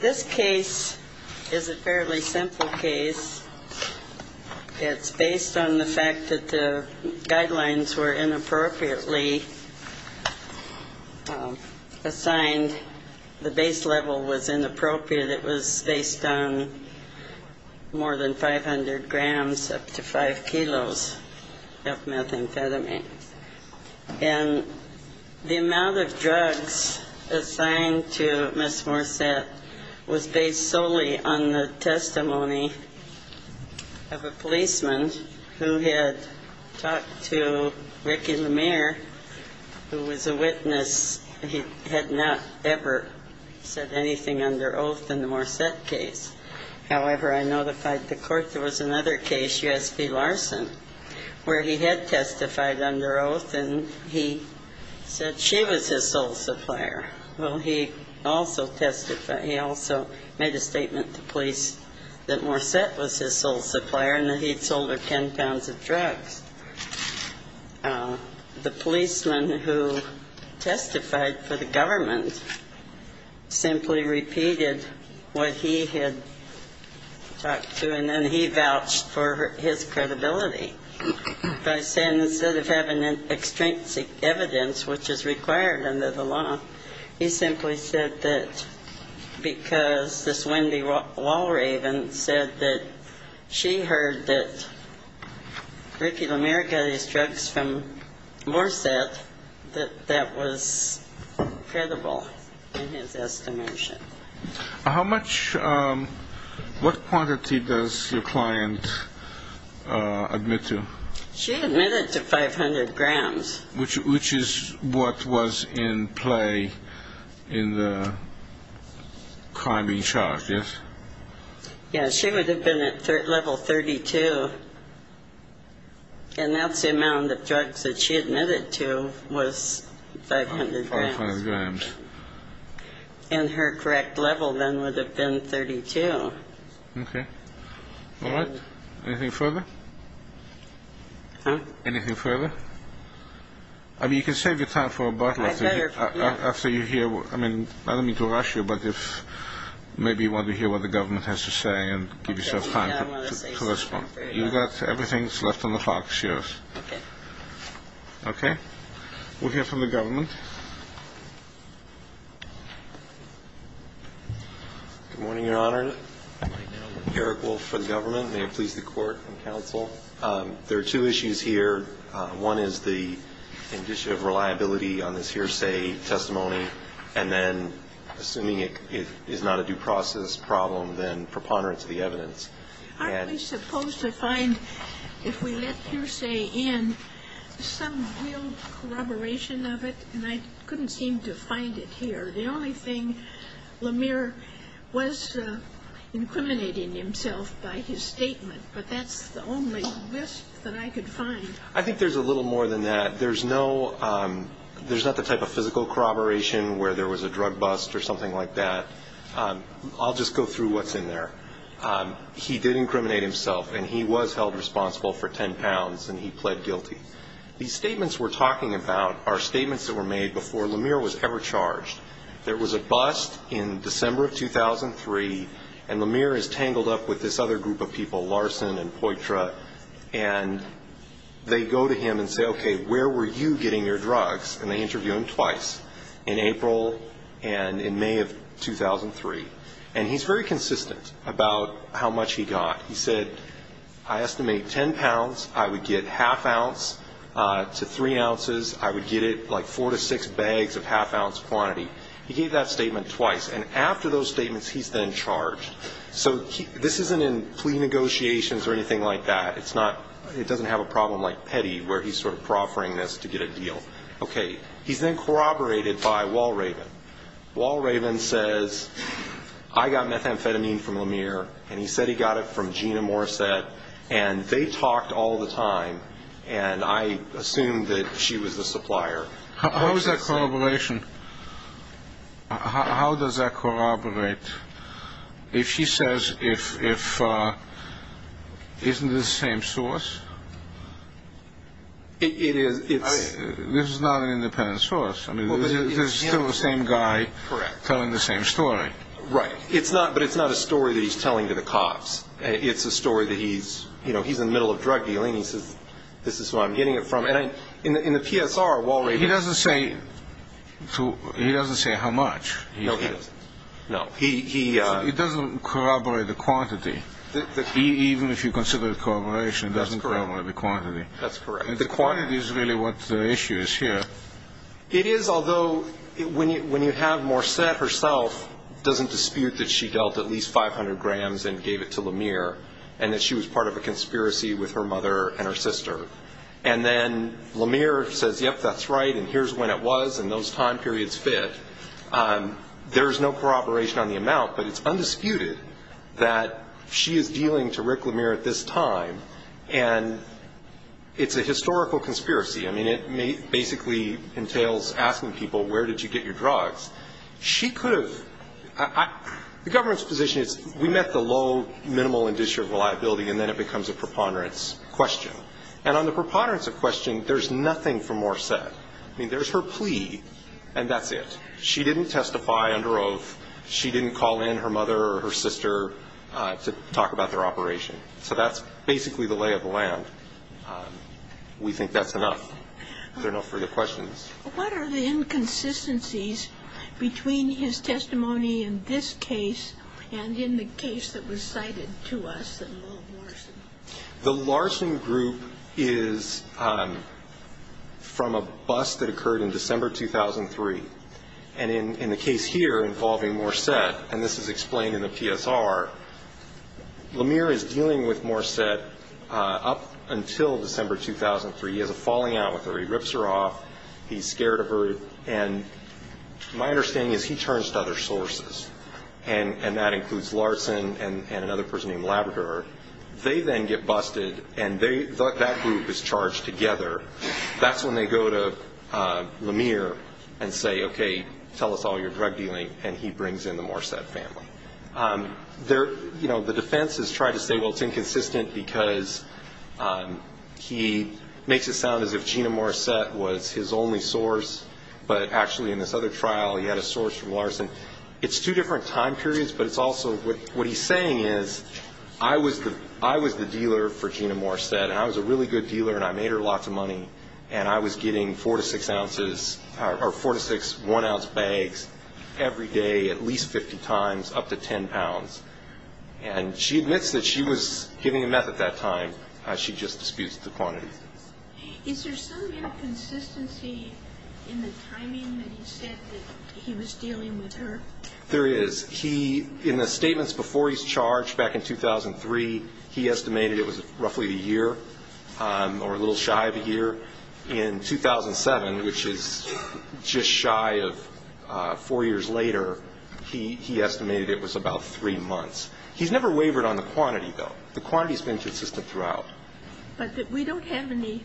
This case is a fairly simple case. It's based on the fact that the guidelines were inappropriately assigned. The base level was inappropriate. It was based on more than 500 grams up to 5 kilos of methamphetamine. And the amount of drugs assigned to Ms. Morsette was based solely on the testimony of a policeman who had talked to Ricky Lemire, who was a witness. He had not ever said anything under oath in the Morsette case. However, I notified the where he had testified under oath, and he said she was his sole supplier. Well, he also testified, he also made a statement to police that Morsette was his sole supplier and that he had sold her 10 pounds of drugs. The policeman who testified for the government simply repeated what he had talked to, and then he vouched for his credibility by saying instead of having extrinsic evidence, which is required under the law, he simply said that because this Wendy Wallraven said that she heard that Ricky Lemire got his drugs from Morsette, that that was credible in his estimation. How much, what quantity does your client admit to? She admitted to 500 grams. Which is what was in play in the criming charge, yes? Yes, she would have been at level 32, and that's the amount of drugs that she admitted to was 500 grams. And her correct level then would have been 32. Okay. All right. Anything further? Huh? Anything further? I mean, you can save your time for a bottle after you hear, I don't mean to rush you, but if maybe you want to hear what the government has to say and give yourself time to respond. I want to save some time for it. You've got everything that's left on the clock, it's yours. Okay. We'll hear from the government. Good morning, Your Honor. Eric Wolf for the government. May it please the Court and counsel. There are two issues here. One is the initiative reliability on this hearsay testimony, and then assuming it is not a due process problem, then preponderance of the evidence. Aren't we supposed to find, if we let hearsay in, some real corroboration of it? And I couldn't seem to find it here. The only thing, LaMere was incriminating himself by his statement, but that's the only list that I could find. I think there's a little more than that. There's no, there's not the type of physical corroboration where there was a drug bust or something like that. I'll just go through what's in there. He did incriminate himself, and he was held responsible for 10 pounds, and he pled guilty. These statements we're talking about are statements that were made before LaMere was ever charged. There was a bust in December of 2003, and LaMere is tangled up with this other group of people, Larson and Poitra, and they go to him and say, okay, where were you getting your drugs? And they interview him twice, in April and in May of 2003. And he's very consistent about how much he got. He said, I estimate 10 pounds, I would get half ounce to three ounces. I would get it like four to six bags of half ounce quantity. He gave that statement twice, and after those statements, he's then charged. So this isn't in plea negotiations or anything like that. It's not, it doesn't have a problem like Petty, where he's sort of corroborated by Wall Raven. Wall Raven says, I got methamphetamine from LaMere, and he said he got it from Gina Morissette, and they talked all the time, and I assumed that she was the supplier. How is that corroboration? How does that corroborate? If she says, if, if, isn't it the same source? It is, it's... This is not an independent source. I mean, this is still the same guy telling the same story. Right. It's not, but it's not a story that he's telling to the cops. It's a story that he's, you know, he's in the middle of drug dealing. He says, this is who I'm getting it from. And I, in the PSR, Wall Raven... He doesn't say, he doesn't say how much. No, he doesn't. No. He, he... He doesn't corroborate the quantity. Even if you consider it corroboration, it doesn't corroborate the quantity. That's correct. The quantity is really what the issue is here. It is, although, when you, when you have Morissette herself, doesn't dispute that she dealt at least 500 grams and gave it to LaMere, and that she was part of a conspiracy with her mother and her sister. And then LaMere says, yep, that's right, and here's when it was, and those time periods fit. There's no corroboration on the amount, but it's undisputed that she is dealing to Rick LaMere at this time, and it's a historical conspiracy. I mean, it basically entails asking people, where did you get your drugs? She could have... The government's position is, we met the low, minimal, and disreputable liability, and then it becomes a preponderance question. And on the preponderance of question, there's nothing for Morissette. I mean, there's her plea, and that's it. She didn't testify under oath. She didn't call in her mother or her sister to talk about their operation. So that's basically the lay of the land. We think that's enough. There are no further questions. What are the inconsistencies between his testimony in this case and in the case that was cited to us that involved Larson? The Larson group is from a bust that occurred in December 2003. And in the case here involving Morissette, and this is explained in the PSR, Lemire is dealing with Morissette up until December 2003. He has a falling out with her. He rips her off. He's scared of her. And my understanding is he turns to other sources, and that includes Larson and another person named Labrador. They then get busted, and that group is charged together. That's when they go to Lemire and say, OK, tell us all your drug dealing, and he brings in the Morissette family. You know, the defense has tried to say, well, it's inconsistent because he makes it sound as if Gina Morissette was his only source, but actually in this other trial he had a source from Larson. It's two different time periods, but it's also what he's saying is, I was the dealer for Gina Morissette, and I was a really good dealer, and I made her lots of money, and I was getting 4 to 6 ounces, or 4 to 6 one-ounce bags every day at least 50 times up to 10 pounds. And she admits that she was giving him meth at that time. She just disputes the quantity. Is there some kind of consistency in the timing that he said that he was dealing with her? There is. In the statements before he's charged back in 2003, he estimated it was roughly a year, or a little shy of a year. In 2007, which is just shy of 4 years later, he estimated it was about 3 months. He's never wavered on the quantity, though. The quantity's been consistent throughout. But we don't have any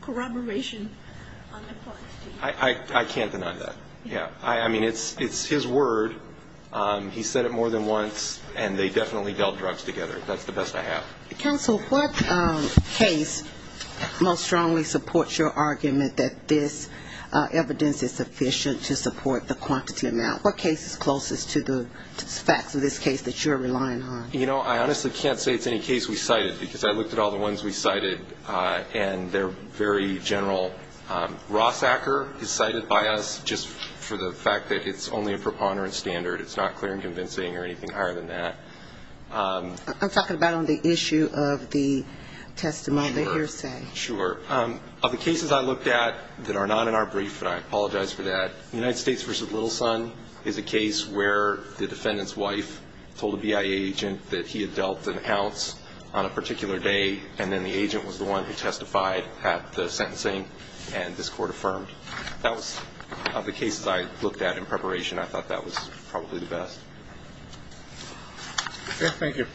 corroboration on the quantity. I can't deny that, yeah. I mean, it's his word. He's said it more than once, and they definitely dealt drugs together. That's the best I have. Counsel, what case most strongly supports your argument that this evidence is sufficient to support the quantity amount? What case is closest to the facts of this case that you're relying on? You know, I honestly can't say it's any case we cited, because I looked at all the ones we cited, and they're very general. Ross Acker is cited by us just for the fact that it's only a preponderance standard. It's not clear and convincing or anything higher than that. I'm talking about on the issue of the testimony hearsay. Sure. Of the cases I looked at that are not in our brief, and I apologize for that, United States v. Little Son is a case where the defendant's wife told a BIA agent that he had dealt an ounce on a particular day, and then the agent was the one who testified at the sentencing, and this court affirmed. That was... Of the cases I looked at in preparation, I thought that was probably the best. Okay, thank you.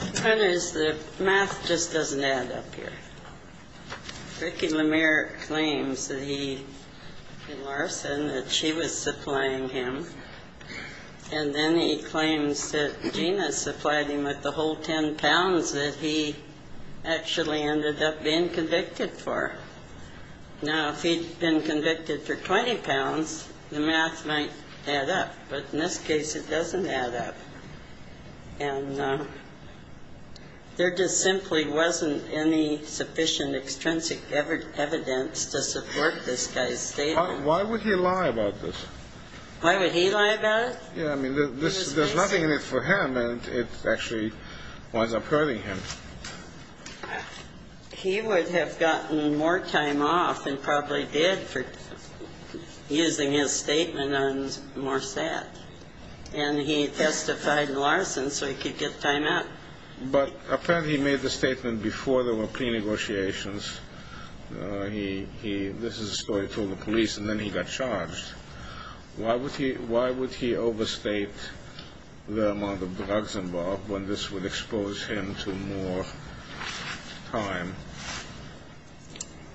The point is, the math just doesn't add up here. Ricky LeMire claims that he... that she was supplying him, and then he claims that Gina supplied him with the whole 10 pounds that he actually ended up being convicted for. Now, if he'd been convicted for 20 pounds, the math might add up, but in this case, it doesn't add up. And there just simply wasn't any sufficient extrinsic evidence to support this guy's statement. Why would he lie about this? Why would he lie about it? Yeah, I mean, there's nothing in it for him, and it actually winds up hurting him. He would have gotten more time off than probably did for using his statement on Morset. And he testified in Larson, so he could get time out. But apparently he made the statement before there were pre-negotiations. This is a story told to the police, and then he got charged. Why would he overstate the amount of drugs involved when this would expose him to more time?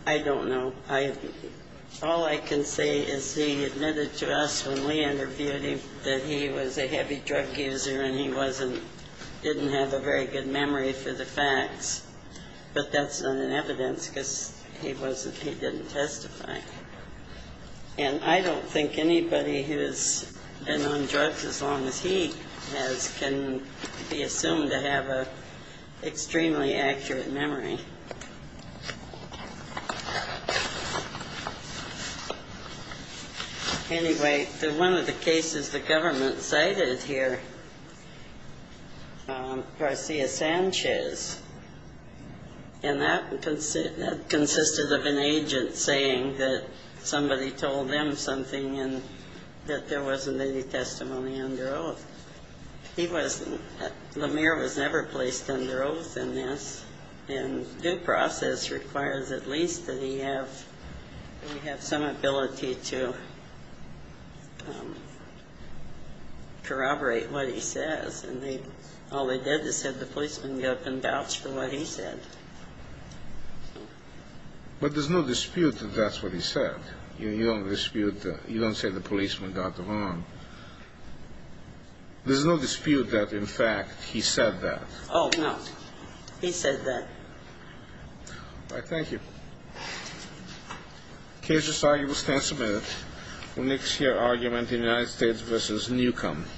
I don't know. All I can say is he admitted to us when we interviewed him that he was a heavy drug user and he didn't have a very good memory for the facts. But that's not an evidence because he didn't testify. And I don't think anybody who has been on drugs as long as he has can be assumed to have an extremely accurate memory. Anyway, one of the cases the government cited here, Garcia-Sanchez, and that consisted of an agent saying that somebody told them something and that there wasn't any testimony under oath. Lemire was never placed under oath in this, and he was never placed The due process requires at least that he have some ability to corroborate what he says. All they did was have the policeman go up and vouch for what he said. But there's no dispute that that's what he said. You don't dispute that. You don't say the policeman got them on. There's no dispute that, in fact, he said that. Oh, no. He said that. All right, thank you. The case is signed. You will stand submitted for next year argument in United States v. Newcombe.